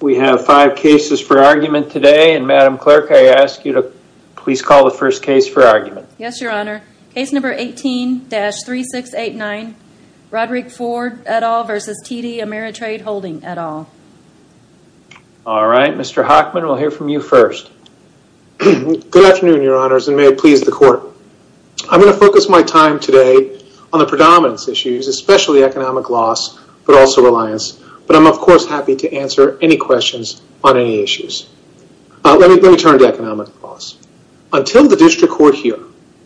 We have five cases for argument today and Madam Clerk, I ask you to please call the first case for argument. Yes, Your Honor. Case number 18-3689 Roderick Ford et al. versus TD Ameritrade Holding et al. All right, Mr. Hockman, we'll hear from you first. Good afternoon, Your Honors, and may it please the court. I'm going to focus my time today on the predominance issues, especially economic loss, but also reliance. But I'm, of course, happy to answer any questions on any issues. Let me turn to economic loss. Until the district court here,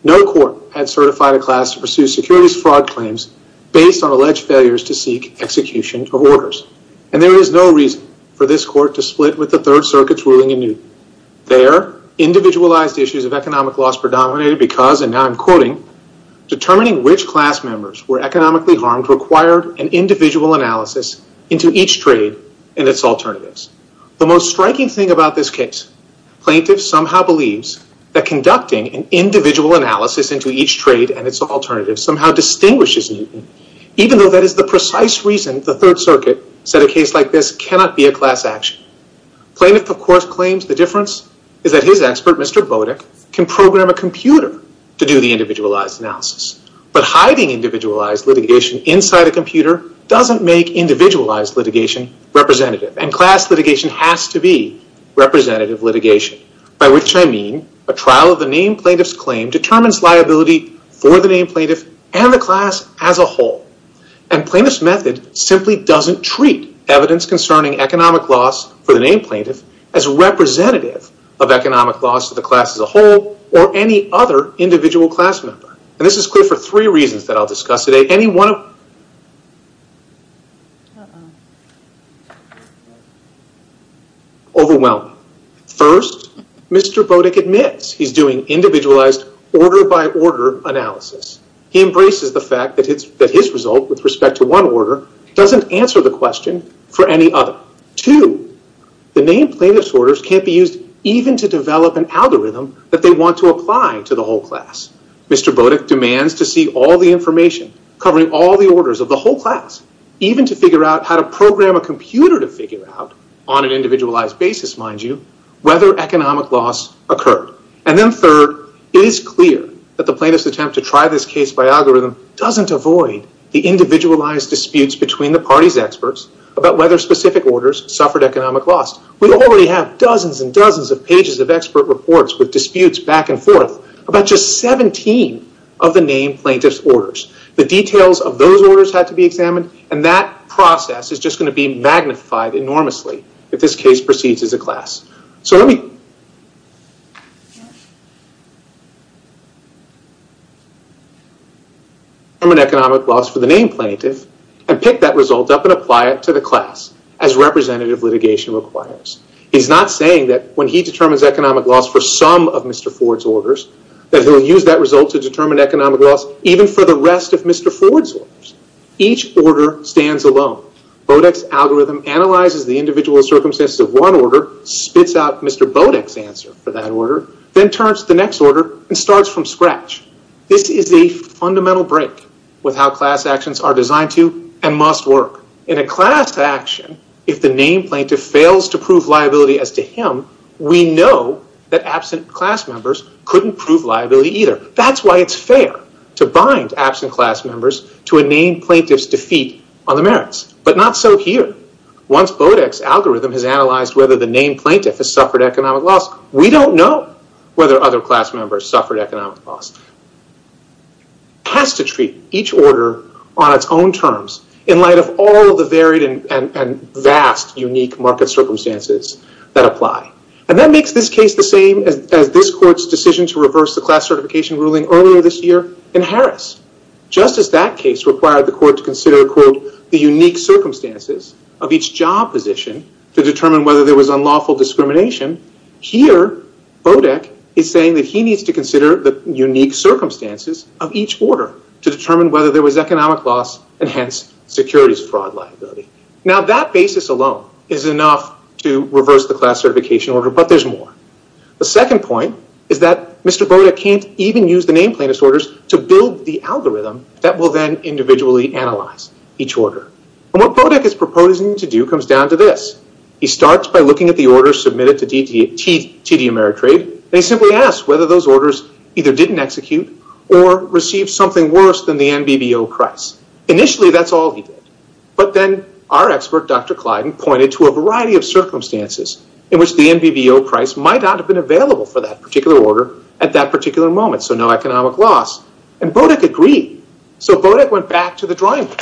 no court had certified a class to pursue securities fraud claims based on alleged failures to seek execution of orders. And there is no reason for this court to split with the Third Circuit's ruling in Newton. There, individualized issues of economic loss predominated because, and now I'm quoting, determining which class members were economically harmed required an individual analysis into each trade and its alternatives. The most striking thing about this case, plaintiffs somehow believes that conducting an individual analysis into each trade and its alternatives somehow distinguishes Newton, even though that is the precise reason the Third Circuit said a case like this cannot be a class action. Plaintiff, of course, claims the difference is that his expert, Mr. Bodek, can program a computer to do the individualized analysis. But hiding individualized litigation inside a computer doesn't make individualized litigation representative, and class litigation has to be representative litigation. By which I mean, a trial of the named plaintiff's claim determines liability for the named plaintiff and the class as a whole, and plaintiff's method simply doesn't treat evidence concerning economic loss for the named plaintiff as representative of economic loss to the class as a whole, or any other individual class member. And this is clear for three reasons that I'll discuss today, any one of... Overwhelming. First, Mr. Bodek admits he's doing individualized order-by-order analysis. He embraces the fact that his result, with respect to one order, doesn't answer the question for any other. The named plaintiff's orders can't be used even to develop an algorithm that they want to apply to the whole class. Mr. Bodek demands to see all the information covering all the orders of the whole class, even to figure out how to program a computer to figure out, on an individualized basis, mind you, whether economic loss occurred. And then third, it is clear that the plaintiff's attempt to try this case by algorithm doesn't avoid the cost. We already have dozens and dozens of pages of expert reports with disputes back and forth, about just 17 of the named plaintiff's orders. The details of those orders had to be examined, and that process is just going to be magnified enormously if this case proceeds as a class. So let me... He's not saying that when he determines economic loss for some of Mr. Ford's orders, that he'll use that result to determine economic loss even for the rest of Mr. Ford's orders. Each order stands alone. Bodek's algorithm analyzes the individual circumstances of one order, spits out Mr. Bodek's answer for that order, then turns to the next order and starts from scratch. This is a fundamental break with how class actions are designed to and must work. In a class action, if the named plaintiff fails to prove liability as to him, we know that absent class members couldn't prove liability either. That's why it's fair to bind absent class members to a named plaintiff's defeat on the merits. But not so here. Once Bodek's algorithm has analyzed whether the named plaintiff has suffered economic loss, we don't know whether other class members suffered economic loss. It has to treat each order on its own terms in light of all the varied and vast, unique market circumstances that apply. And that makes this case the same as this court's decision to reverse the class certification ruling earlier this year in Harris. Just as that case required the court to consider, quote, the unique circumstances of each job position to determine whether there was unlawful discrimination, here, Bodek is saying that he needs to consider the unique circumstances of each order to determine whether there was economic loss, and hence securities fraud liability. Now that basis alone is enough to reverse the class certification order, but there's more. The second point is that Mr. Bodek can't even use the named plaintiff's orders to build the algorithm that will then individually analyze each order. What Bodek is proposing to do comes down to this. He starts by looking at the orders submitted to TD Ameritrade, and he simply asks whether those orders either didn't execute or received something worse than the NBBO price. Initially, that's all he did. But then our expert, Dr. Clyden, pointed to a variety of circumstances in which the NBBO price might not have been available for that particular order at that particular moment, so no economic loss. And Bodek agreed. So Bodek went back to the drawing board,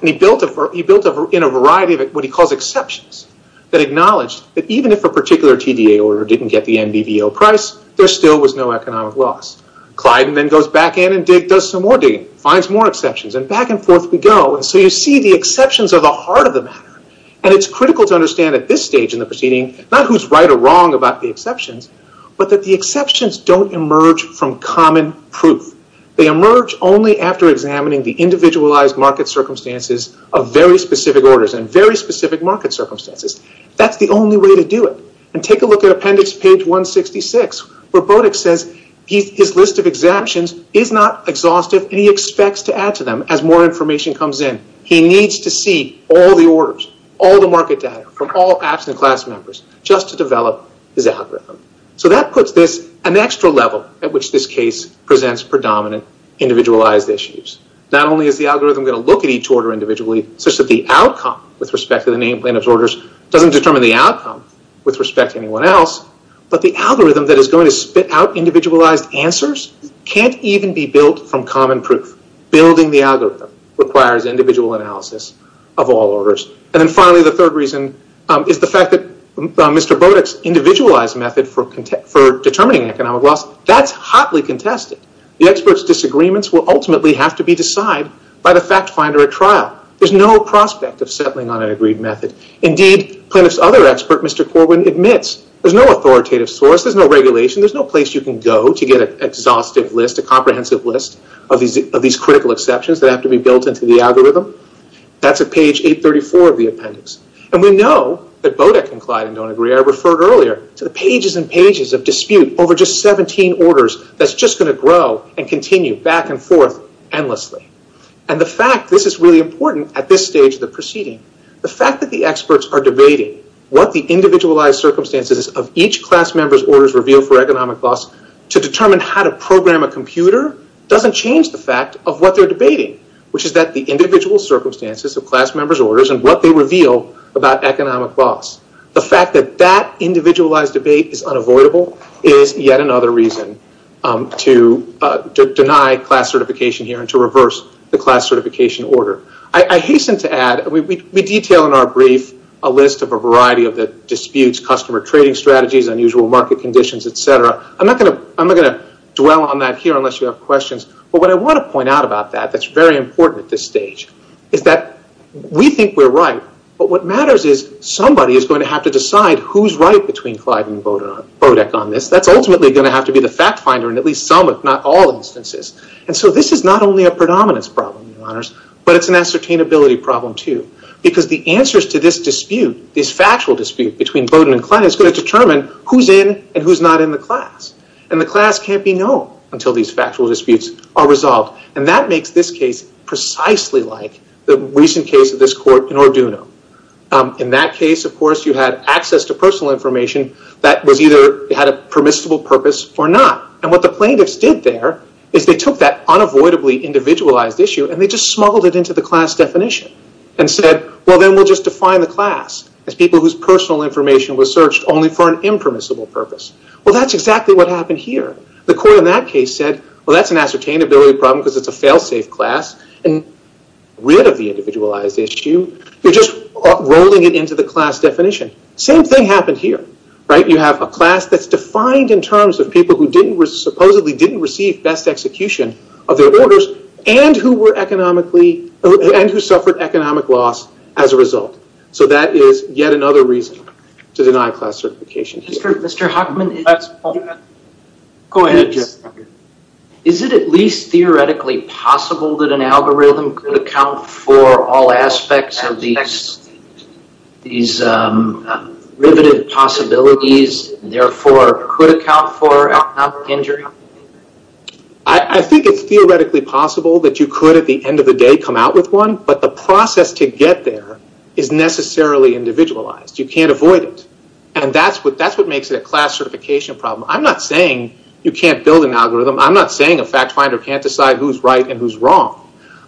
and he built in a variety of what he calls exceptions that acknowledge that even if a particular TDA order didn't get the NBBO price, there still was no economic loss. Clyden then goes back in and does some more digging, finds more exceptions, and back and forth we go. And so you see the exceptions are the heart of the matter. And it's critical to understand at this stage in the proceeding, not who's right or wrong about the exceptions, but that the exceptions don't emerge from common proof. They emerge only after examining the individualized market circumstances of very specific orders and very specific market circumstances. That's the only way to do it. And take a look at appendix page 166, where Bodek says his list of exemptions is not exhaustive, and he expects to add to them as more information comes in. He needs to see all the orders, all the market data from all absent class members just to develop his algorithm. So that puts this an extra level at which this case presents predominant individualized issues. Not only is the algorithm going to look at each order individually such that the outcome with respect to the name plaintiff's orders doesn't determine the outcome with respect to anyone else, but the algorithm that is going to spit out individualized answers can't even be built from common proof. Building the algorithm requires individual analysis of all orders. And then finally, the third reason is the fact that Mr. Bodek's individualized method for determining economic loss, that's hotly contested. The expert's disagreements will ultimately have to be decided by the fact finder at trial. There's no prospect of settling on an agreed method. Indeed, plaintiff's other expert, Mr. Corwin, admits there's no authoritative source, there's no regulation, there's no place you can go to get an exhaustive list, a comprehensive list of these critical exceptions that have to be built into the algorithm. That's at page 834 of the appendix. And we know that Bodek and Clyde don't agree. I referred earlier to the pages and pages of dispute over just 17 orders that's just going to grow and continue back and forth endlessly. And the fact this is really important at this stage of the proceeding, the fact that the experts are debating what the individualized circumstances of each class member's orders reveal for economic loss to determine how to program a computer doesn't change the fact of what they're debating, which is that the individual circumstances of class members' orders and what they reveal about economic loss. The fact that that individualized debate is unavoidable is yet another reason to deny class certification here and to reverse the class certification order. I hasten to add, we detail in our brief a list of a variety of disputes, customer trading strategies, unusual market conditions, etc. I'm not going to dwell on that here unless you have questions. But what I want to point out about that that's very important at this stage is that we think we're right, but what matters is somebody is going to have to decide who's right between Clyde and Bodek on this. That's ultimately going to have to be the fact finder in at least some, if not all, instances. And so this is not only a predominance problem, but it's an ascertainability problem, too. Because the answers to this dispute, this factual dispute between Boden and Clyde, is going to determine who's in and who's not in the class. And the class can't be known until these factual disputes are resolved. And that makes this case precisely like the recent case of this court in Orduno. In that case, of course, you had access to personal information that either had a permissible purpose or not. And what the plaintiffs did there is they took that unavoidably individualized issue and they just smuggled it into the class definition. And said, well, then we'll just define the class as people whose personal information was searched only for an impermissible purpose. Well, that's exactly what happened here. The court in that case said, well, that's an ascertainability problem because it's a fail-safe class. And rid of the individualized issue, you're just rolling it into the class definition. Same thing happened here, right? You have a class that's defined in terms of people who supposedly didn't receive best execution of their orders. And who were economically, and who suffered economic loss as a result. So that is yet another reason to deny class certification. Mr. Huckman, is it at least theoretically possible that an algorithm could account for all aspects of these riveted possibilities, and therefore could account for economic injury? I think it's theoretically possible that you could, at the end of the day, come out with one. But the process to get there is necessarily individualized. You can't avoid it. And that's what makes it a class certification problem. I'm not saying you can't build an algorithm. I'm not saying a fact finder can't decide who's right and who's wrong.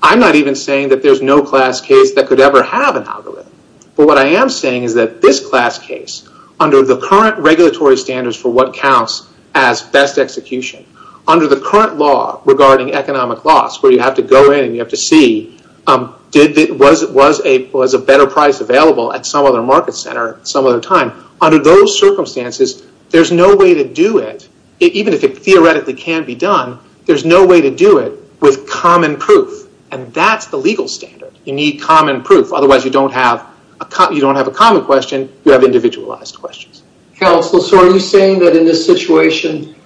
I'm not even saying that there's no class case that could ever have an algorithm. But what I am saying is that this class case, under the current regulatory standards for what counts as best execution, under the current law regarding economic loss, where you have to go in and you have to see, was a better price available at some other market center at some other time? Under those circumstances, there's no way to do it, even if it theoretically can be done, there's no way to do it with common proof. And that's the legal standard. You need common proof. Otherwise, you don't have a common question, you have individualized questions. Counsel, so are you saying that in this situation,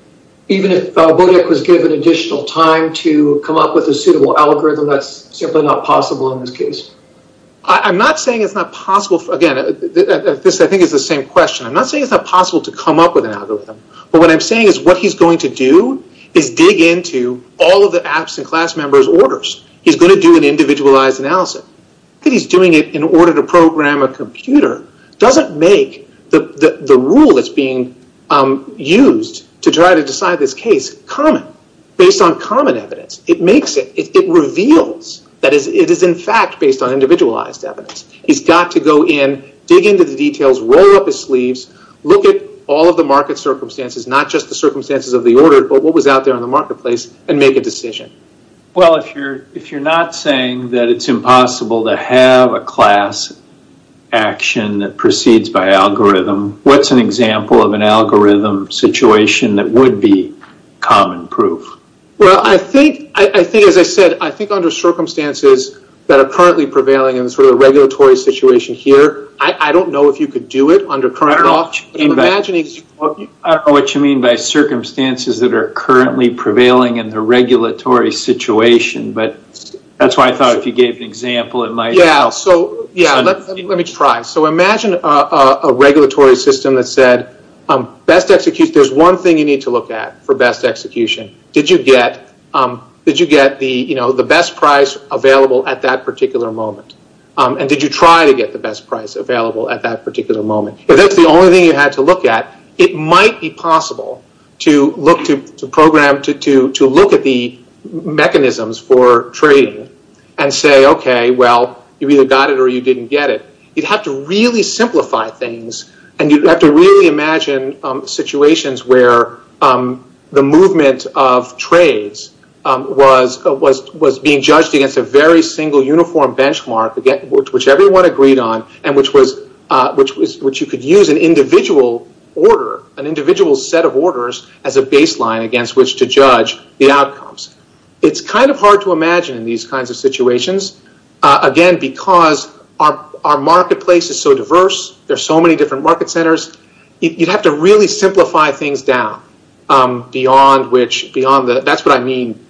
even if Bodek was given additional time to come up with a suitable algorithm, that's simply not possible in this case? I'm not saying it's not possible. Again, this, I think, is the same question. I'm not saying it's not possible to come up with an algorithm. But what I'm saying is what he's going to do is dig into all of the absent class members' orders. He's going to do an individualized analysis. He's doing it in order to program a computer. Doesn't make the rule that's being used to try to decide this case common, based on common evidence. It makes it, it reveals that it is in fact based on individualized evidence. He's got to go in, dig into the details, roll up his sleeves, look at all of the market circumstances, not just the circumstances of the order, but what was out there in the marketplace, and make a decision. Well, if you're not saying that it's impossible to have a class action that proceeds by algorithm, what's an example of an algorithm situation that would be common proof? Well, I think, as I said, I think under circumstances that are currently prevailing in the regulatory situation here, I don't know if you could do it under current law. I'm imagining... I don't know what you mean by circumstances that are currently prevailing in the regulatory situation, but that's why I thought if you gave an example it might help. Yeah, so, yeah, let me try. So, imagine a regulatory system that said, there's one thing you need to look at for best execution. Did you get the best price available at that particular moment? And did you try to get the best price available at that particular moment? If that's the only thing you had to look at, it might be possible to look to program, to look at the mechanisms for trading and say, okay, well, you either got it or you didn't get it. You'd have to really simplify things, and you'd have to really imagine situations where the movement of trades was being judged against a very single uniform benchmark, which everyone agreed on, and which you could use an individual order, an individual set of orders as a baseline against which to judge the outcomes. It's kind of hard to imagine in these kinds of situations, again, because our marketplace is so diverse. There's so many different market centers. You'd have to really simplify things down beyond which, beyond the... That's what I mean,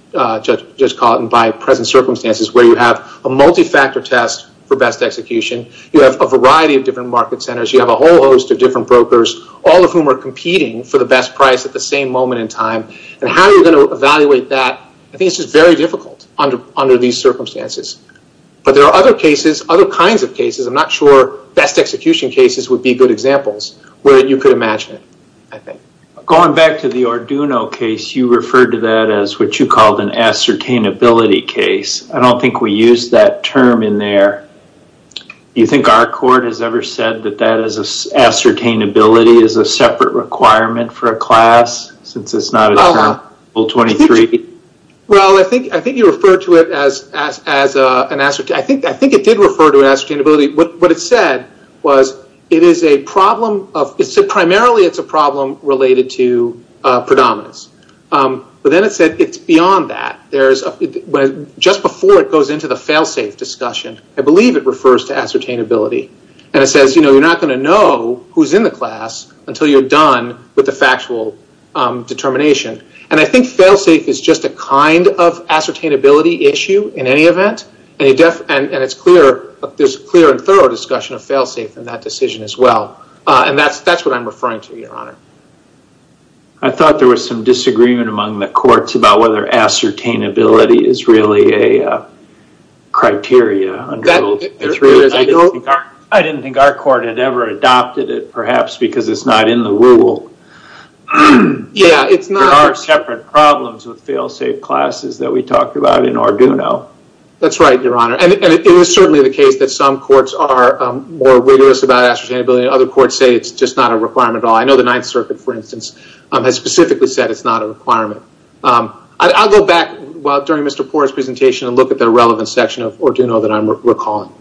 just caught in by present circumstances, where you have a multi-factor test for best execution. You have a variety of different market centers. You have a whole host of different brokers, all of whom are competing for the best price at the same moment in time. How are you going to evaluate that? I think it's just very difficult under these circumstances. But there are other cases, other kinds of cases. I'm not sure best execution cases would be good examples where you could imagine it, I think. Going back to the Arduino case, you referred to that as what you called an ascertainability case. I don't think we use that term in there. Do you think our court has ever said that that ascertainability is a separate requirement for a class, since it's not a Term 23? Well, I think you referred to it as an ascertainability... I think it did refer to ascertainability. What it said was it is a problem of... It said primarily it's a problem related to predominance. But then it said it's beyond that. Just before it goes into the fail-safe discussion, I believe it refers to ascertainability. And it says you're not going to know who's in the class until you're done with the factual determination. And I think fail-safe is just a kind of ascertainability issue in any event. And there's clear and thorough discussion of fail-safe in that decision as well. And that's what I'm referring to, Your Honor. I thought there was some disagreement among the courts about whether ascertainability is really a criteria under Rule 33. I didn't think our court had ever adopted it, perhaps, because it's not in the rule. Yeah, it's not. There are separate problems with fail-safe classes that we talked about in Arduino. That's right, Your Honor. And it is certainly the case that some courts are more rigorous about ascertainability. Other courts say it's just not a requirement at all. I know the Ninth Circuit, for instance, has specifically said it's not a requirement. I'll go back during Mr. Poore's presentation and look at the relevant section of Arduino that I'm recalling.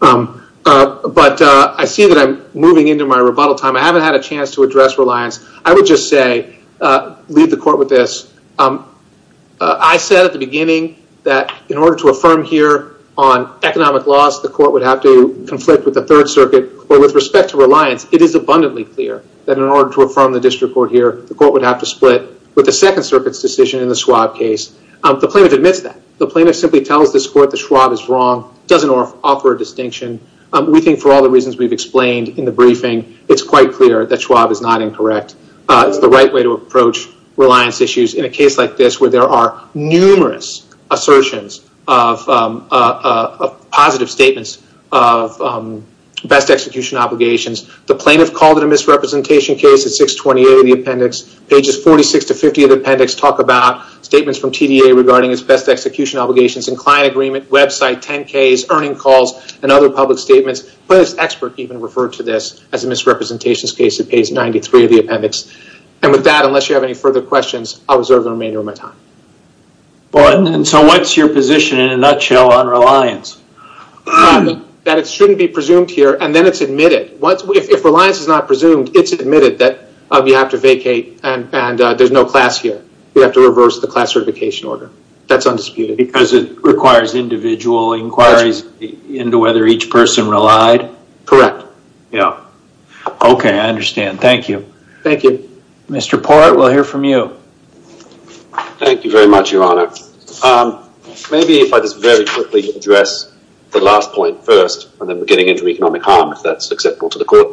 But I see that I'm moving into my rebuttal time. I haven't had a chance to address reliance. I would just say, leave the court with this. I said at the beginning that in order to affirm here on economic laws, the court would have to conflict with the Third Circuit. With respect to reliance, it is abundantly clear that in order to affirm the district court here, the court would have to split with the Second Circuit's decision in the Schwab case. The plaintiff admits that. The plaintiff simply tells this court that Schwab is wrong, doesn't offer a distinction. We think for all the reasons we've explained in the briefing, it's quite clear that Schwab is not incorrect. It's the right way to approach reliance issues in a case like this where there are numerous assertions of positive statements of best execution obligations. The plaintiff called it a misrepresentation case at 628 of the appendix. Pages 46 to 50 of the appendix talk about statements from TDA regarding its best execution obligations and client agreement, website, 10Ks, earning calls, and other public statements. The plaintiff's expert even referred to this as a misrepresentations case at page 93 of the appendix. With that, unless you have any further questions, I'll reserve the remainder of my time. What's your position in a nutshell on reliance? That it shouldn't be presumed here, and then it's admitted. If reliance is not presumed, it's admitted that you have to vacate and there's no class here. You have to reverse the class certification order. That's undisputed. Because it requires individual inquiries into whether each person relied? Correct. Yeah. Okay. I understand. Thank you. Thank you. Mr. Port, we'll hear from you. Thank you very much, Your Honor. Maybe if I just very quickly address the last point first, and then we're getting into economic harm if that's acceptable to the court.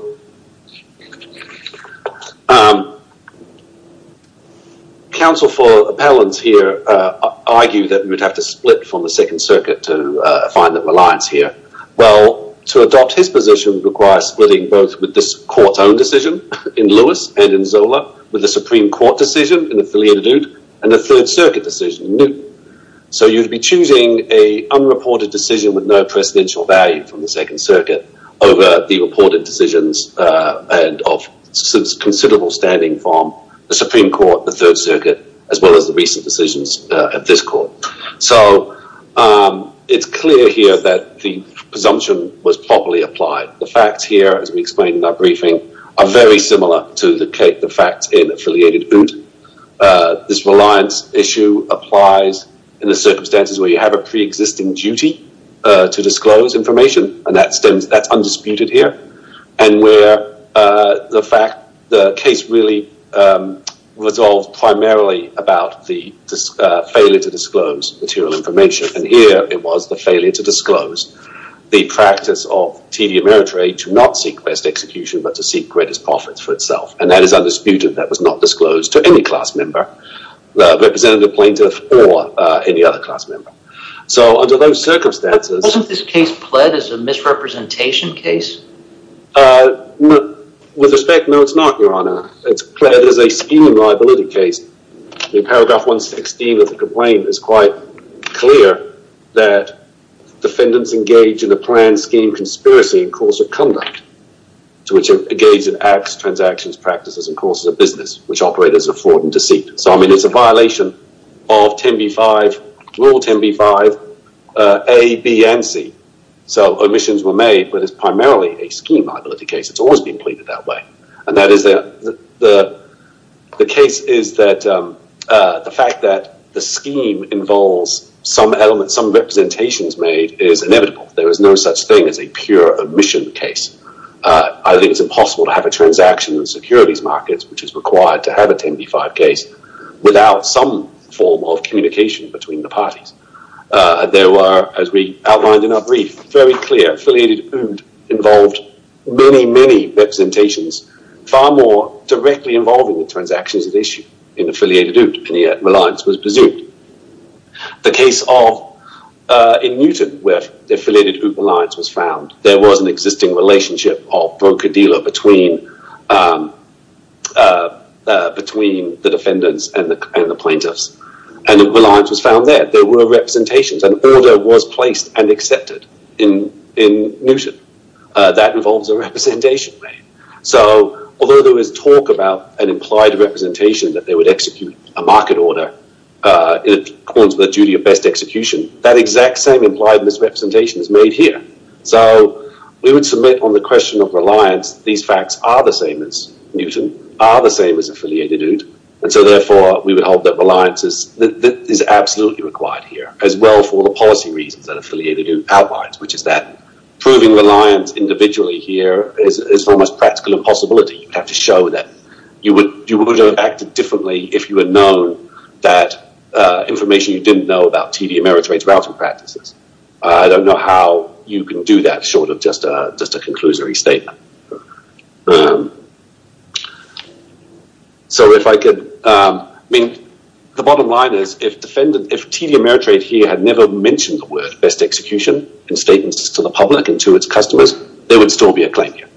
Counsel for appellants here argue that we would have to split from the Second Circuit to find the reliance here. Well, to adopt his position requires splitting both with this court's own decision in Lewis and in Zola with the Supreme Court decision in Affiliated Ood and the Third Circuit decision in Newton. So, you'd be choosing a unreported decision with no precedential value from the Second Circuit over the reported decisions and of considerable standing from the Supreme Court, the Third Circuit, as well as the recent decisions at this court. So, it's clear here that the presumption was properly applied. The facts here, as we explained in our briefing, are very similar to the facts in Affiliated Ood. This reliance issue applies in the circumstances where you have a pre-existing duty to disclose information, and that's undisputed here, and where the case really was all primarily about the failure to disclose material information, and here it was the failure to disclose. The practice of tedium eritreae to not seek best execution, but to seek greatest profits for itself, and that is undisputed. That was not disclosed to any class member, representative plaintiff, or any other class member. So, under those circumstances… Wasn't this case pled as a misrepresentation case? With respect, no, it's not, Your Honor. It's pled as a stealing liability case. In paragraph 116 of the complaint, it's quite clear that defendants engage in a planned scheme conspiracy in course of conduct, to which they engage in acts, transactions, practices, and courses of business, which operate as a fraud and deceit. So, I mean, it's a violation of rule 10b-5, A, B, and C. So, omissions were made, but it's primarily a scheme liability case. It's always been pleaded that way. And that is that the case is that the fact that the scheme involves some element, some representations made is inevitable. There is no such thing as a pure omission case. I think it's impossible to have a transaction in securities markets, which is required to have a 10b-5 case, without some form of communication between the parties. There were, as we outlined in our brief, very clear, affiliated, involved many, many representations far more directly involving the transactions at issue in affiliated OOP, and yet reliance was presumed. The case of, in Newton, where affiliated OOP reliance was found, there was an existing relationship of broker-dealer between the defendants and the plaintiffs, and reliance was found there. There were representations, and order was placed and accepted in Newton. That involves a representation made. So, although there was talk about an implied representation that they would execute a market order in accordance with the duty of best execution, that exact same implied misrepresentation is made here. So, we would submit on the question of reliance, these facts are the same as Newton, are the same as affiliated OOP, and so therefore we would hold that reliance is absolutely required here, as well for the policy reasons that affiliated OOP outlines, which is that proving reliance individually here is an almost practical impossibility. You have to show that you would have acted differently if you had known that information you didn't know about TD Ameritrade's routing practices. I don't know how you can do that short of just a conclusory statement. So if I could, I mean, the bottom line is, if TD Ameritrade here had never mentioned the word best execution in statements to the public and to its customers, there would still be a claim here.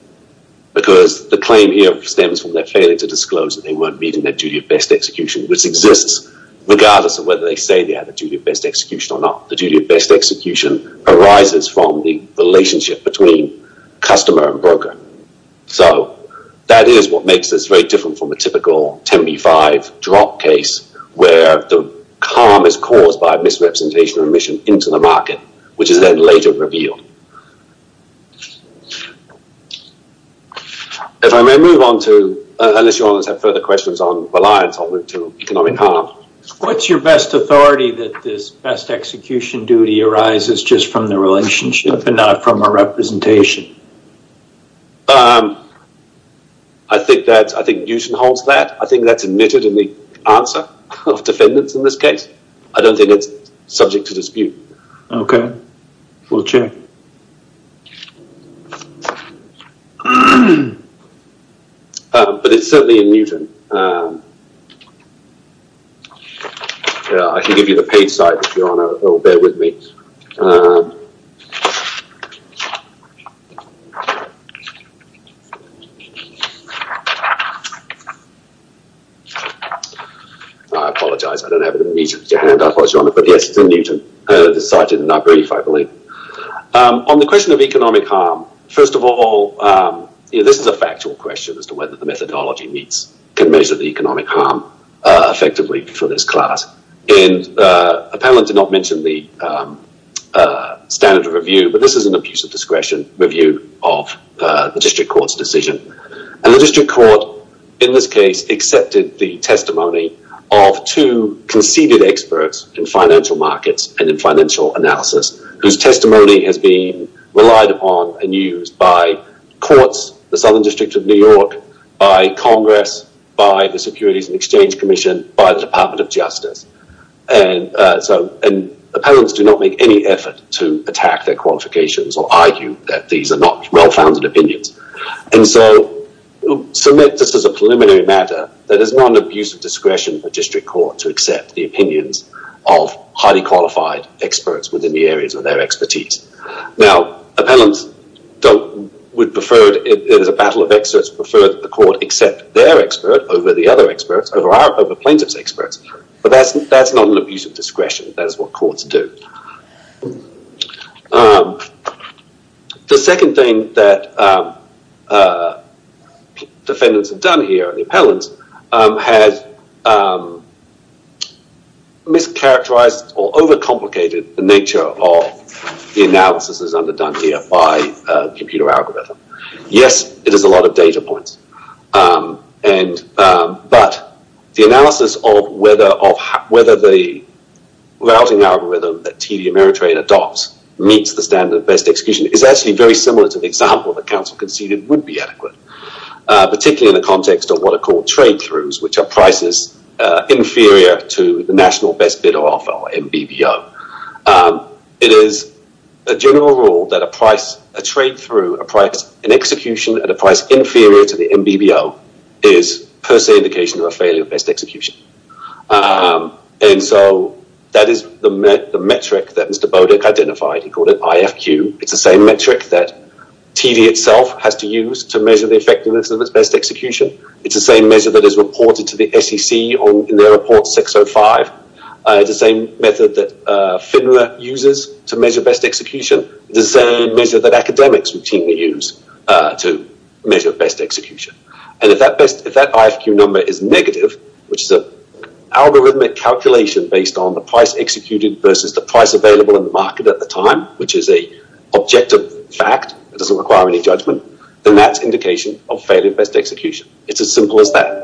Because the claim here stems from their failure to disclose that they weren't meeting their duty of best execution, which exists regardless of whether they say they have a duty of best execution or not. The duty of best execution arises from the relationship between customer and broker. So that is what makes this very different from a typical 10B5 drop case, where the harm is caused by misrepresentation or omission into the market, which is then later revealed. If I may move on to, unless you all have further questions on reliance, I'll move to economic harm. What's your best authority that this best execution duty arises just from the relationship and not from a representation? I think Newton holds that. I think that's admitted in the answer of defendants in this case. I don't think it's subject to dispute. Okay. We'll check. But it's certainly in Newton. I can give you the page site if you want to, or bear with me. I apologize, I don't have it in me, but yes, it's in Newton, the site in my brief, I believe. On the question of economic harm, first of all, this is a factual question as to whether the methodology meets, can measure the economic harm effectively for this class. A panelist did not mention the standard of review, but this is an abuse of discretion review of the district court's decision, and the district court in this case accepted the testimony of two conceded experts in financial markets and in financial analysis, whose testimony has been relied upon and used by courts, the Southern District of New York, by Congress, by the Securities and Exchange Commission, by the Department of Justice. Appellants do not make any effort to attack their qualifications or argue that these are not well-founded opinions, and so submit this as a preliminary matter that is not an abuse of discretion for district court to accept the opinions of highly qualified experts within the areas of their expertise. Now, appellants would prefer, as a battle of experts, prefer that the court accept their expert over the other experts, over plaintiff's experts, but that's not an abuse of discretion. That is what courts do. The second thing that defendants have done here, the appellants, has mischaracterized or overcomplicated the nature of the analysis that is under done here by a computer algorithm. Yes, it is a lot of data points, but the analysis of whether the routing algorithm that TD Ameritrade adopts meets the standard of best execution is actually very similar to the example that counsel conceded would be adequate, particularly in the context of what are called trade-throughs, which are prices inferior to the national best bidder offer, or MBBO. It is a general rule that a price, a trade-through, an execution at a price inferior to the MBBO is per se an indication of a failure of best execution. That is the metric that Mr. Bodek identified, he called it IFQ. It's the same metric that TD itself has to use to measure the effectiveness of its best execution. It's the same measure that is reported to the SEC in their report 605. It's the same method that FINRA uses to measure best execution. It's the same measure that academics routinely use to measure best execution. If that IFQ number is negative, which is an algorithmic calculation based on the price executed versus the price available in the market at the time, which is an objective fact, it doesn't require any judgment, then that's indication of failure of best execution. It's as simple as that.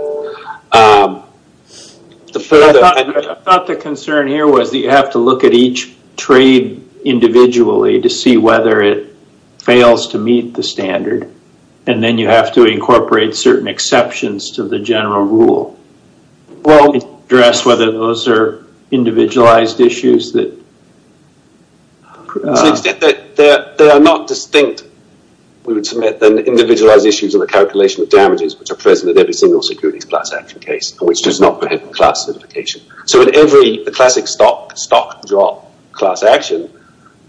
The further... I thought the concern here was that you have to look at each trade individually to see whether it fails to meet the standard, and then you have to incorporate certain exceptions to the general rule to address whether those are individualized issues that... To the extent that they are not distinct, we would submit, than individualized issues in the calculation of damages, which are present in every single securities class action case, which does not prohibit class certification. In every classic stock drop class action,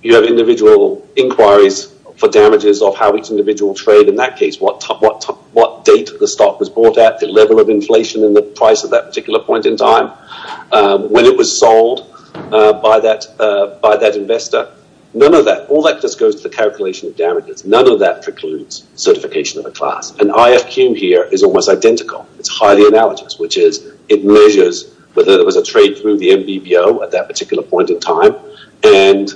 you have individual inquiries for damages of how each individual trade in that case, what date the stock was bought at, the level of inflation and the price at that particular point in time, when it was sold by that investor. None of that, all that just goes to the calculation of damages, none of that precludes certification of a class. And IFQ here is almost identical. It's highly analogous, which is it measures whether there was a trade through the MBBO at that particular point in time, and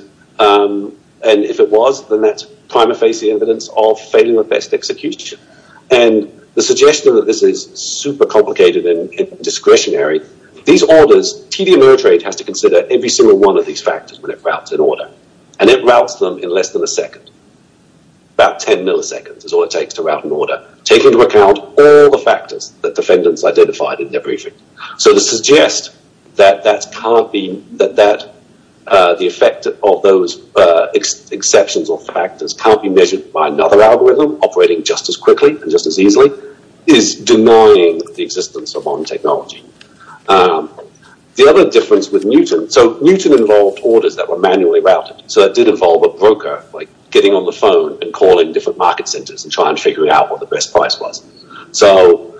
if it was, then that's prima facie evidence of failure of best execution. And the suggestion that this is super complicated and discretionary, these orders, TD Ameritrade has to consider every single one of these factors when it routes an order, and it routes them in less than a second, about 10 milliseconds is all it takes to route an order, taking into account all the factors that defendants identified in their briefing. So to suggest that the effect of those exceptions or factors can't be measured by another algorithm operating just as quickly and just as easily is denying the existence of modern technology. The other difference with Newton, so Newton involved orders that were manually routed, so that did involve a broker getting on the phone and calling different market centers and trying to figure out what the best price was. So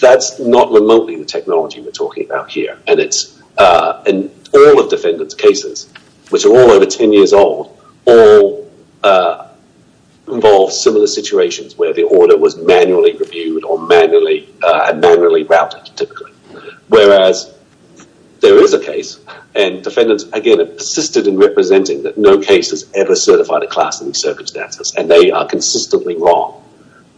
that's not remotely the technology we're talking about here, and all of defendants' cases, which are all over 10 years old, all involve similar situations where the order was manually reviewed or manually routed, typically. Whereas there is a case, and defendants, again, have persisted in representing that no case has ever certified a class in these circumstances, and they are consistently wrong.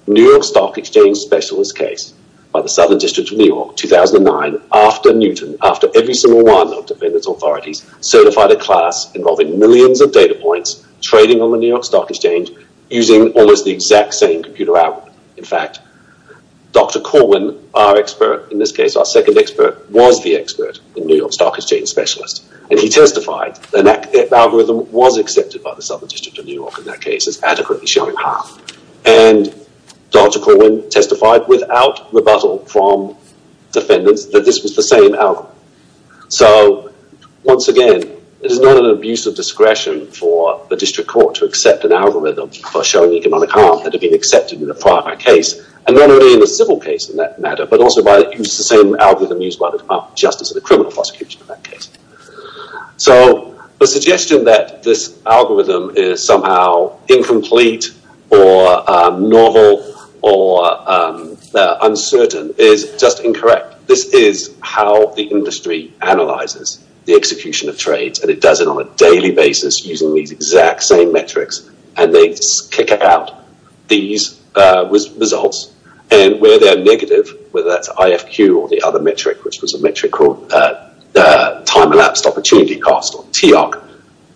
New York Stock Exchange Specialist case by the Southern District of New York, 2009, after Newton, after every single one of defendants' authorities certified a class involving millions of data points, trading on the New York Stock Exchange, using almost the exact same computer algorithm. In fact, Dr. Corwin, our expert in this case, our second expert, was the expert in New York Stock Exchange Specialist, and he testified that the algorithm was accepted by the Southern District of New York in that case as adequately showing harm, and Dr. Corwin testified without rebuttal from defendants that this was the same algorithm. So once again, it is not an abuse of discretion for the district court to accept an algorithm for showing economic harm that had been accepted in the prior case, and not only in the civil case in that matter, but also by using the same algorithm used by the Department of Justice in the criminal prosecution in that case. So the suggestion that this algorithm is somehow incomplete or novel or uncertain is just incorrect. This is how the industry analyzes the execution of trades, and it does it on a daily basis using these exact same metrics, and they kick out these results, and where they're negative, whether that's IFQ or the other metric, which was a metric called Time Elapsed Opportunity Cost, or TIOC,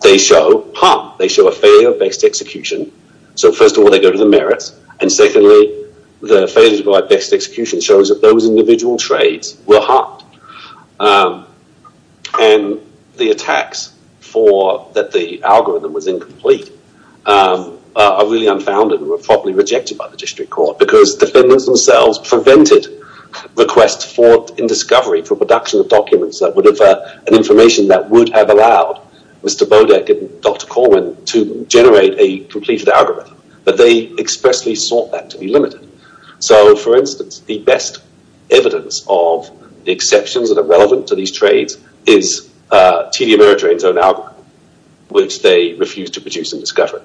they show harm. They show a failure of best execution. So first of all, they go to the merits, and secondly, the failure of best execution shows that those individual trades were harmed, and the attacks for that the algorithm was incomplete are really unfounded and were probably rejected by the district court, because defendants themselves prevented requests for, in discovery, for production of documents that would have an information that would have allowed Mr. Bodek and Dr. Corwin to generate a completed algorithm, but they expressly sought that to be limited. So for instance, the best evidence of the exceptions that are relevant to these trades is TD Ameritrade's own algorithm, which they refused to produce in discovery,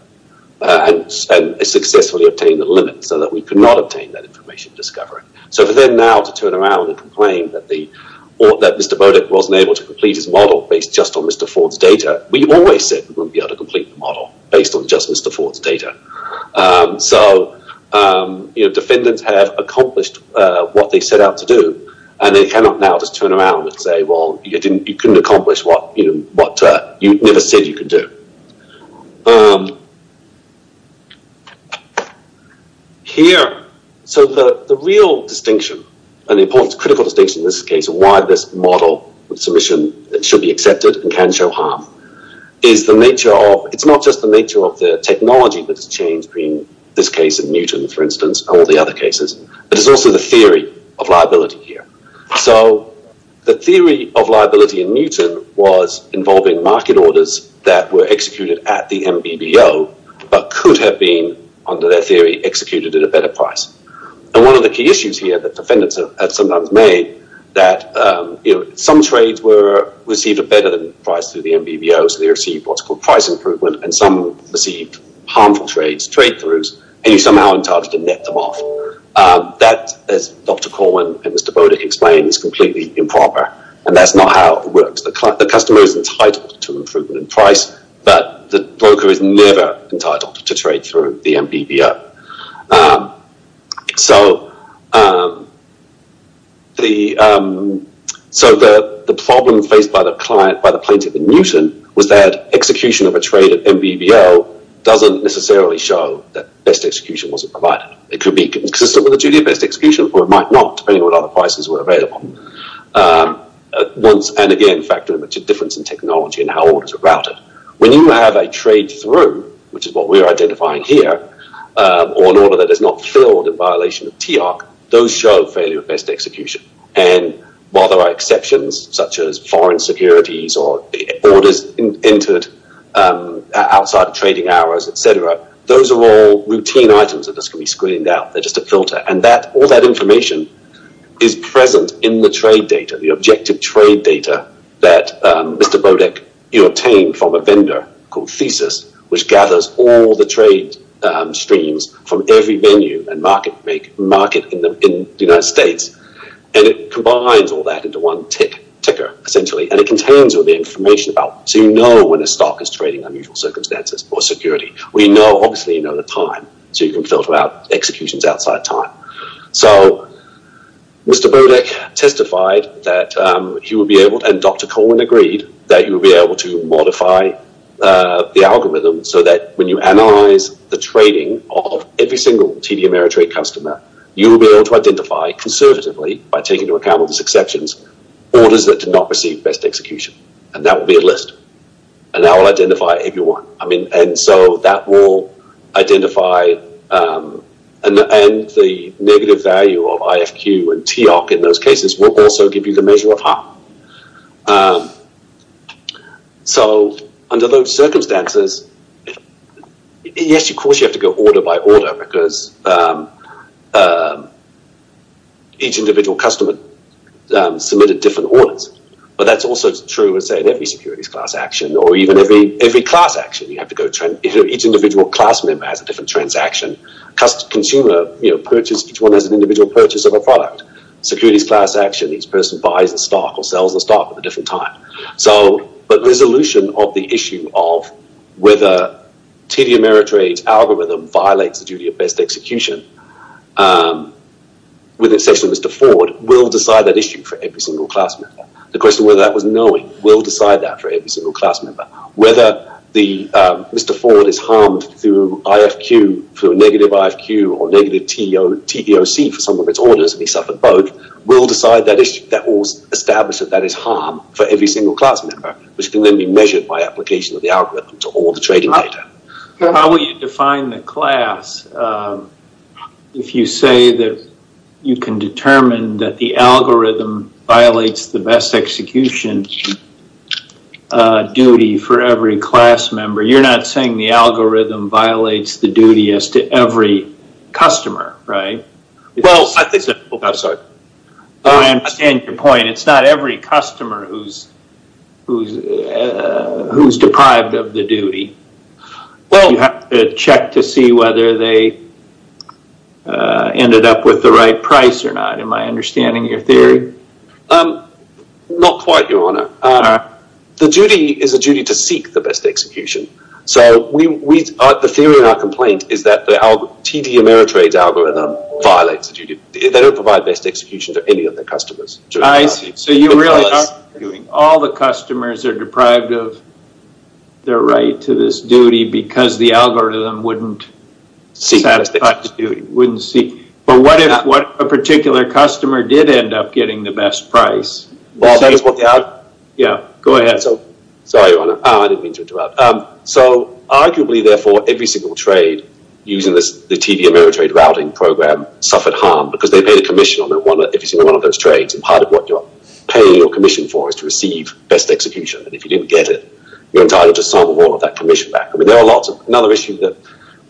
and successfully obtained the limit so that we could not obtain that information in discovery. So for them now to turn around and complain that Mr. Bodek wasn't able to complete his model based just on Mr. Ford's data, we always said we wouldn't be able to complete the model based on just Mr. Ford's data. So defendants have accomplished what they set out to do, and they cannot now just turn around and say, well, you couldn't accomplish what you never said you could do. Here, so the real distinction, and the critical distinction in this case, why this model with submission should be accepted and can show harm, is the nature of, it's not just the nature of the technology that has changed between this case in Newton, for instance, and all the other cases, but it's also the theory of liability here. So the theory of liability in Newton was involving market orders that were executed at the MBBO, but could have been, under their theory, executed at a better price. And one of the key issues here that defendants have sometimes made, that some trades were received a better price through the MBBO, so they received what's called price improvement, and some received harmful trades, trade-throughs, and you're somehow entitled to net them off. That, as Dr. Corwin and Mr. Bodick explained, is completely improper, and that's not how it works. The customer is entitled to improvement in price, but the broker is never entitled to trade through the MBBO. So, the problem faced by the client, by the plaintiff in Newton, was that execution of a trade at MBBO doesn't necessarily show that best execution wasn't provided. It could be consistent with the duty of best execution, or it might not, depending on what other prices were available, once and again factoring into difference in technology and how orders are routed. When you have a trade-through, which is what we're identifying here, or an order that is not filled in violation of TARC, those show failure of best execution. And while there are exceptions, such as foreign securities or orders entered outside of trading hours, etc., those are all routine items that can be screened out. They're just a filter. And all that information is present in the trade data, the objective trade data that Mr. Bodek obtained from a vendor called Thesis, which gathers all the trade streams from every venue and market in the United States. And it combines all that into one ticker, essentially, and it contains all the information about, so you know when a stock is trading under unusual circumstances or security. We know, obviously, you know the time, so you can filter out executions outside of time. So, Mr. Bodek testified that he would be able, and Dr. Coleman agreed, that he would be able to modify the algorithm so that when you analyze the trading of every single TD Ameritrade customer, you will be able to identify, conservatively, by taking into account all these exceptions, orders that did not receive best execution. And that will be a list. And that will identify everyone. I mean, and so that will identify, and the negative value of IFQ and TIOC in those cases will also give you the measure of harm. So, under those circumstances, yes, of course, you have to go order by order because each individual customer submitted different orders. But that's also true, let's say, in every securities class action, or even every class action. You have to go, each individual class member has a different transaction. Consumer, you know, purchase, each one has an individual purchase of a product. Securities class action, each person buys a stock or sells a stock at a different time. So, but resolution of the issue of whether TD Ameritrade's algorithm violates the duty of best execution, with exception of Mr. Ford, will decide that issue for every single class member. The question of whether that was knowing will decide that for every single class member. Whether Mr. Ford is harmed through IFQ, through a negative IFQ or negative TEOC for some of its orders, and he suffered both, will decide that issue. That will establish that that is harm for every single class member, which can then be measured by application of the algorithm to all the trading data. How will you define the class if you say that you can determine that the algorithm violates the best execution duty for every class member? You're not saying the algorithm violates the duty as to every customer, right? Well, I think so. I'm sorry. I understand your point. It's not every customer who's deprived of the duty. You have to check to see whether they ended up with the right price or not. Am I understanding your theory? Not quite, Your Honor. The duty is a duty to seek the best execution. So the theory in our complaint is that the TD Ameritrade's algorithm violates the duty. They don't provide best execution to any of their customers. I see. So you really are arguing all the customers are deprived of their right to this duty because the algorithm wouldn't satisfy the duty, wouldn't seek. But what if a particular customer did end up getting the best price? Well, that is what they have. Yeah. Go ahead. Sorry, Your Honor. I didn't mean to interrupt. So arguably, therefore, every single trade using the TD Ameritrade routing program suffered harm because they paid a commission on every single one of those trades. And part of what you're paying your commission for is to receive best execution. And if you didn't get it, you're entitled to some or all of that commission back. I mean, there are lots of other issues that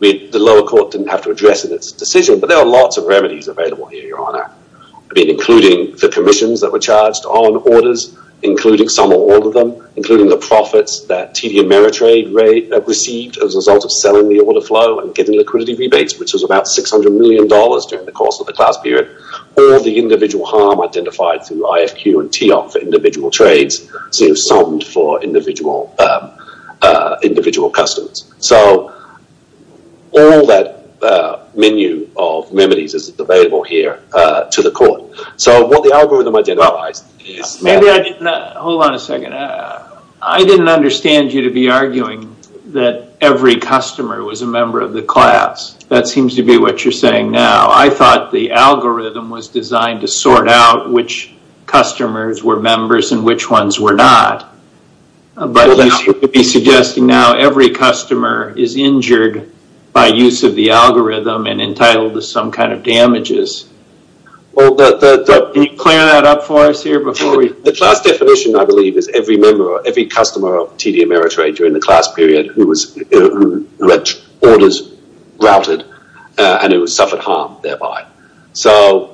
the lower court didn't have to address in its decision. But there are lots of remedies available here, Your Honor, including the commissions that were charged on orders, including some or all of them, including the profits that TD Ameritrade received as a result of selling the order flow and getting liquidity rebates, which was about $600 million during the course of the class period. All of the individual harm identified through IFQ and TEOP for individual trades seemed summed for individual customers. So all that menu of remedies is available here to the court. So what the algorithm identifies is that- Hold on a second. I didn't understand you to be arguing that every customer was a member of the class. That seems to be what you're saying now. I thought the algorithm was designed to sort out which customers were members and which ones were not. But you seem to be suggesting now every customer is injured by use of the algorithm and entitled to some kind of damages. Can you clear that up for us here before we- The class definition, I believe, is every customer of TD Ameritrade during the class period who had orders routed and who suffered harm thereby. So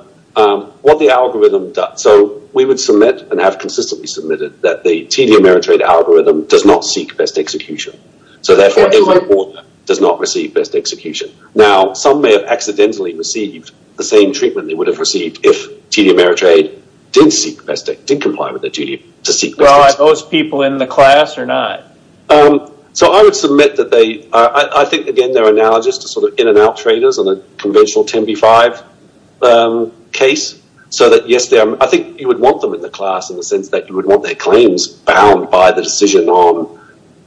what the algorithm does- So we would submit and have consistently submitted that the TD Ameritrade algorithm does not seek best execution. So therefore, every order does not receive best execution. Now some may have accidentally received the same treatment they would have received if they were in the class or not. So I would submit that they- I think, again, they're analogous to sort of in-and-out traders on a conventional 10 v. 5 case. So that yes, I think you would want them in the class in the sense that you would want their claims bound by the decision on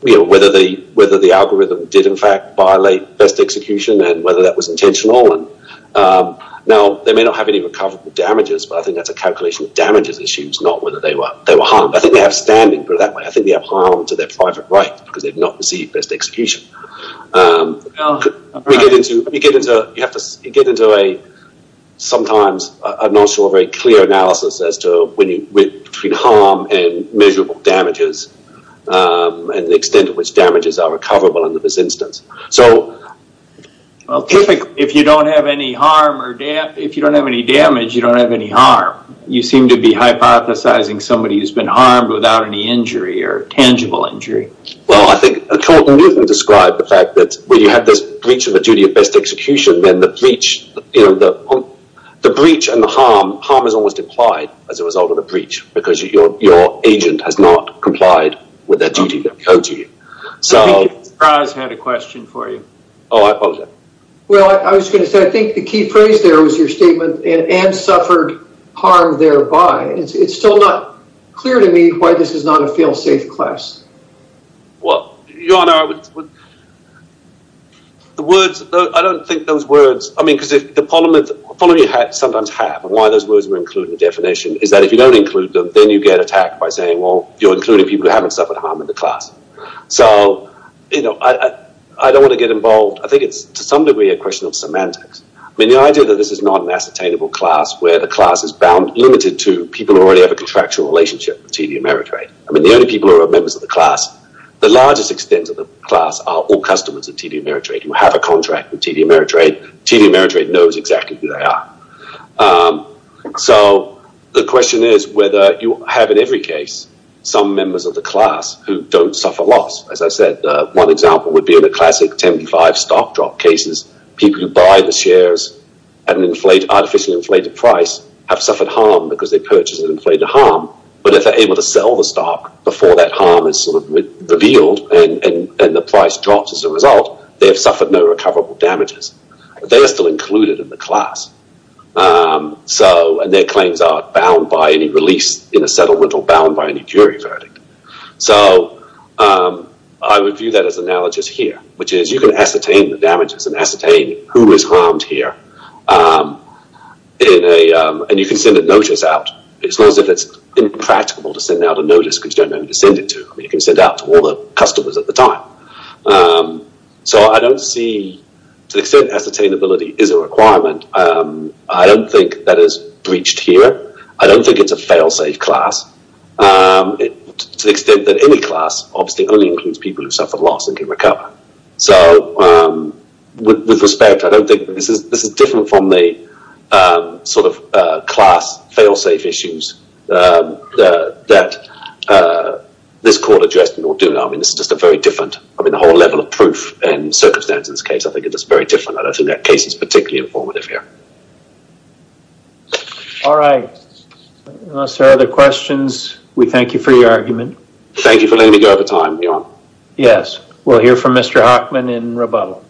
whether the algorithm did, in fact, violate best execution and whether that was intentional. Now they may not have any recoverable damages, but I think that's a calculation of damages issues, not whether they were harmed. I think they have standing for that. I think they have harm to their private right because they've not received best execution. We get into- You have to get into a sometimes a not so very clear analysis as to between harm and measurable damages and the extent to which damages are recoverable in this instance. So- Well, typically, if you don't have any harm or damage- If you don't have any damage, you don't have any harm. You seem to be hypothesizing somebody who's been harmed without any injury or tangible injury. Well, I think Colton Newton described the fact that when you have this breach of a duty of best execution, then the breach and the harm, harm is almost implied as a result of the breach because your agent has not complied with that duty that we owe to you. So- I think Mr. Pryor has had a question for you. Oh, okay. Well, I was going to say, I think the key phrase there was your statement, and suffered harm thereby. It's still not clear to me why this is not a feel-safe class. Well, your honor, I would- The words- I don't think those words- I mean, because if the polymath- Polymaths sometimes have, and why those words were included in the definition is that if you don't include them, then you get attacked by saying, well, you're including people who haven't suffered harm in the class. So I don't want to get involved. I think it's, to some degree, a question of semantics. I mean, the idea that this is not an ascertainable class where the class is bound- limited to people who already have a contractual relationship with TD Ameritrade. I mean, the only people who are members of the class, the largest extent of the class are all customers of TD Ameritrade, who have a contract with TD Ameritrade. TD Ameritrade knows exactly who they are. So the question is whether you have, in every case, some members of the class who don't suffer loss. As I said, one example would be in a classic 10 to 5 stock drop cases, people who buy the shares at an artificially inflated price have suffered harm because they purchased an inflated harm. But if they're able to sell the stock before that harm is revealed and the price drops as a result, they have suffered no recoverable damages. They are still included in the class, and their claims are bound by any release in a settlement or bound by any jury verdict. So I would view that as analogous here, which is you can ascertain the damages and ascertain who is harmed here, and you can send a notice out, as long as it's impractical to send out a notice because you don't know who to send it to. I mean, you can send it out to all the customers at the time. So I don't see, to the extent ascertainability is a requirement, I don't think that is breached here. I don't think it's a failsafe class, to the extent that any class obviously only includes people who suffer loss and can recover. So with respect, I don't think, this is different from the sort of class failsafe issues that this court addressed in Orduno. I mean, this is just a very different, I mean, the whole level of proof and circumstance in this case, I think it's just very different. I don't think that case is particularly informative here. All right. Unless there are other questions, we thank you for your argument. Thank you for letting me go over time, Your Honor. Yes. We'll hear from Mr. Hockman in rebuttal.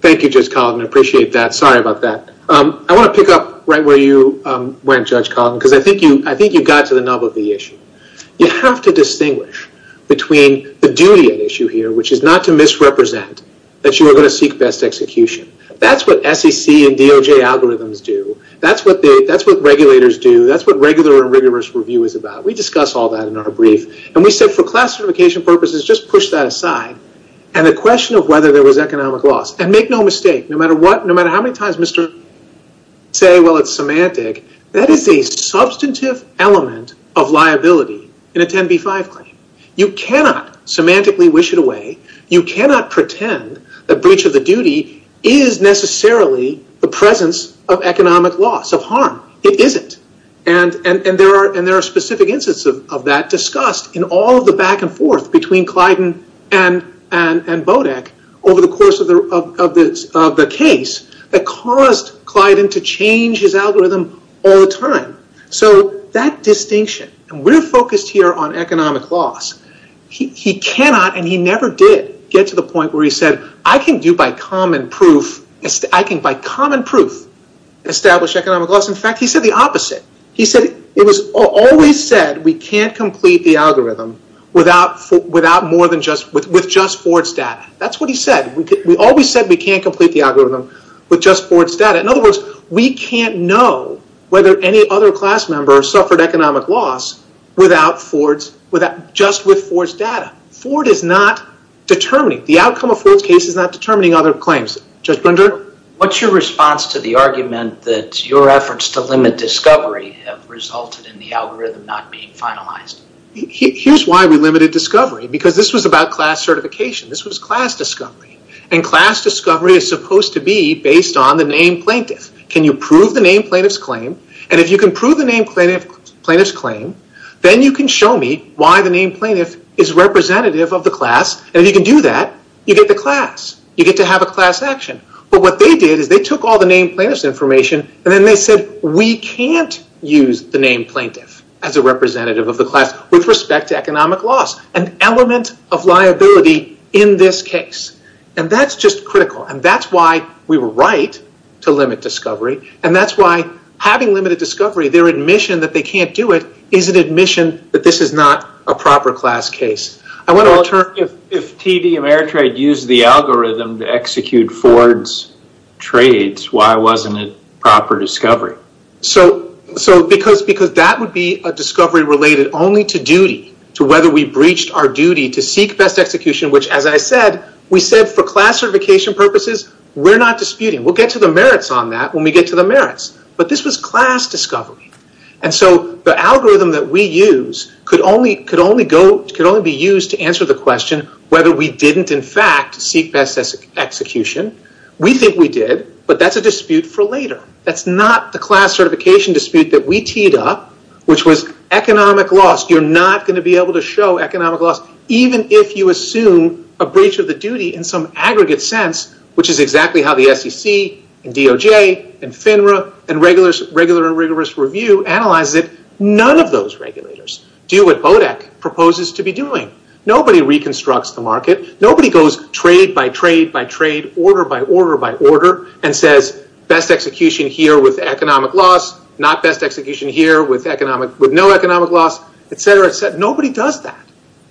Thank you, Judge Collin. I appreciate that. Sorry about that. I want to pick up right where you went, Judge Collin, because I think you got to the nub of the issue. You have to distinguish between the duty at issue here, which is not to misrepresent that you are going to seek best execution. That's what SEC and DOJ algorithms do. That's what regulators do. That's what regular and rigorous review is about. We discuss all that in our brief, and we said for class certification purposes, just push that aside. And the question of whether there was economic loss, and make no mistake, no matter what, no matter how many times Mr. Hockman says, well, it's semantic, that is a substantive element of liability in a 10b-5 claim. You cannot semantically wish it away. You cannot pretend that breach of the duty is necessarily the presence of economic loss, of harm. It isn't. And there are specific instances of that discussed in all of the back and forth between Clyden and Bodek over the course of the case that caused Clyden to change his algorithm all the time. So that distinction, and we're focused here on economic loss. He cannot, and he never did, get to the point where he said, I can by common proof establish economic loss. In fact, he said the opposite. He said, it was always said we can't complete the algorithm with just Ford's data. That's what he said. We always said we can't complete the algorithm with just Ford's data. In other words, we can't know whether any other class member suffered economic loss without Ford's, just with Ford's data. Ford is not determining, the outcome of Ford's case is not determining other claims. Judge Blender? What's your response to the argument that your efforts to limit discovery have resulted in the algorithm not being finalized? Here's why we limited discovery. Because this was about class certification. This was class discovery. And class discovery is supposed to be based on the named plaintiff. Can you prove the named plaintiff's claim? If you can prove the named plaintiff's claim, then you can show me why the named plaintiff is representative of the class, and if you can do that, you get the class. You get to have a class action. But what they did is they took all the named plaintiff's information, and then they said, we can't use the named plaintiff as a representative of the class with respect to economic loss, an element of liability in this case. That's just critical. That's why we were right to limit discovery. And that's why having limited discovery, their admission that they can't do it is an admission that this is not a proper class case. I want to turn... If TD Ameritrade used the algorithm to execute Ford's trades, why wasn't it proper discovery? Because that would be a discovery related only to duty, to whether we breached our duty to seek best execution, which as I said, we said for class certification purposes, we're not disputing. We'll get to the merits on that. We'll get to the merits, but this was class discovery. And so the algorithm that we use could only be used to answer the question whether we didn't in fact seek best execution. We think we did, but that's a dispute for later. That's not the class certification dispute that we teed up, which was economic loss. You're not going to be able to show economic loss, even if you assume a breach of the duty in some aggregate sense, which is exactly how the SEC and DOJ and FINRA and regular and rigorous review analyzes it, none of those regulators do what BODEC proposes to be doing. Nobody reconstructs the market. Nobody goes trade by trade by trade, order by order by order and says, best execution here with economic loss, not best execution here with no economic loss, et cetera, et cetera. Nobody does that.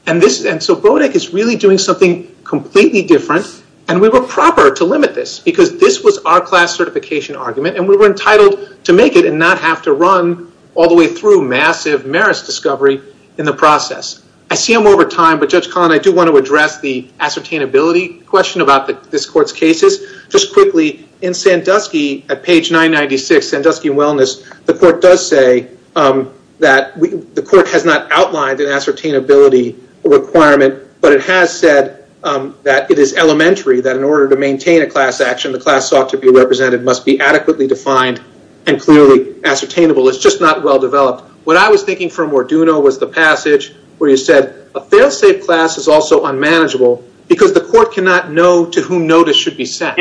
And so BODEC is really doing something completely different, and we were proper to limit this because this was our class certification argument, and we were entitled to make it and not have to run all the way through massive merits discovery in the process. I see I'm over time, but Judge Collin, I do want to address the ascertainability question about this court's cases. Just quickly, in Sandusky at page 996, Sandusky and Wellness, the court does say that the requirement, but it has said that it is elementary, that in order to maintain a class action, the class sought to be represented must be adequately defined and clearly ascertainable. It's just not well developed. What I was thinking from Morduno was the passage where you said, a failsafe class is also unmanageable because the court cannot know to whom notice should be sent.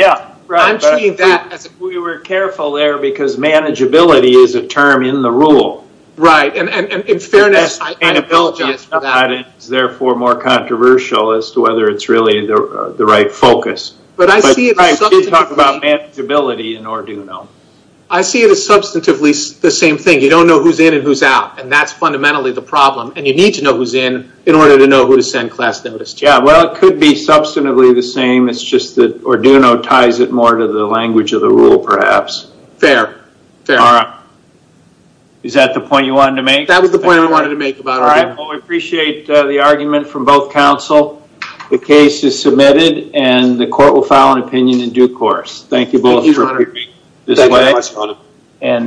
I'm treating that as if we were careful there because manageability is a term in the rule. Right. In fairness, I apologize for that. It's therefore more controversial as to whether it's really the right focus. I see it as substantively the same thing. You don't know who's in and who's out, and that's fundamentally the problem. You need to know who's in in order to know who to send class notice to. It could be substantively the same, it's just that Morduno ties it more to the language of the rule perhaps. Fair. Fair. All right. Is that the point you wanted to make? That was the point I wanted to make about it. All right. Well, we appreciate the argument from both counsel. The case is submitted and the court will file an opinion in due course. Thank you both for being this way.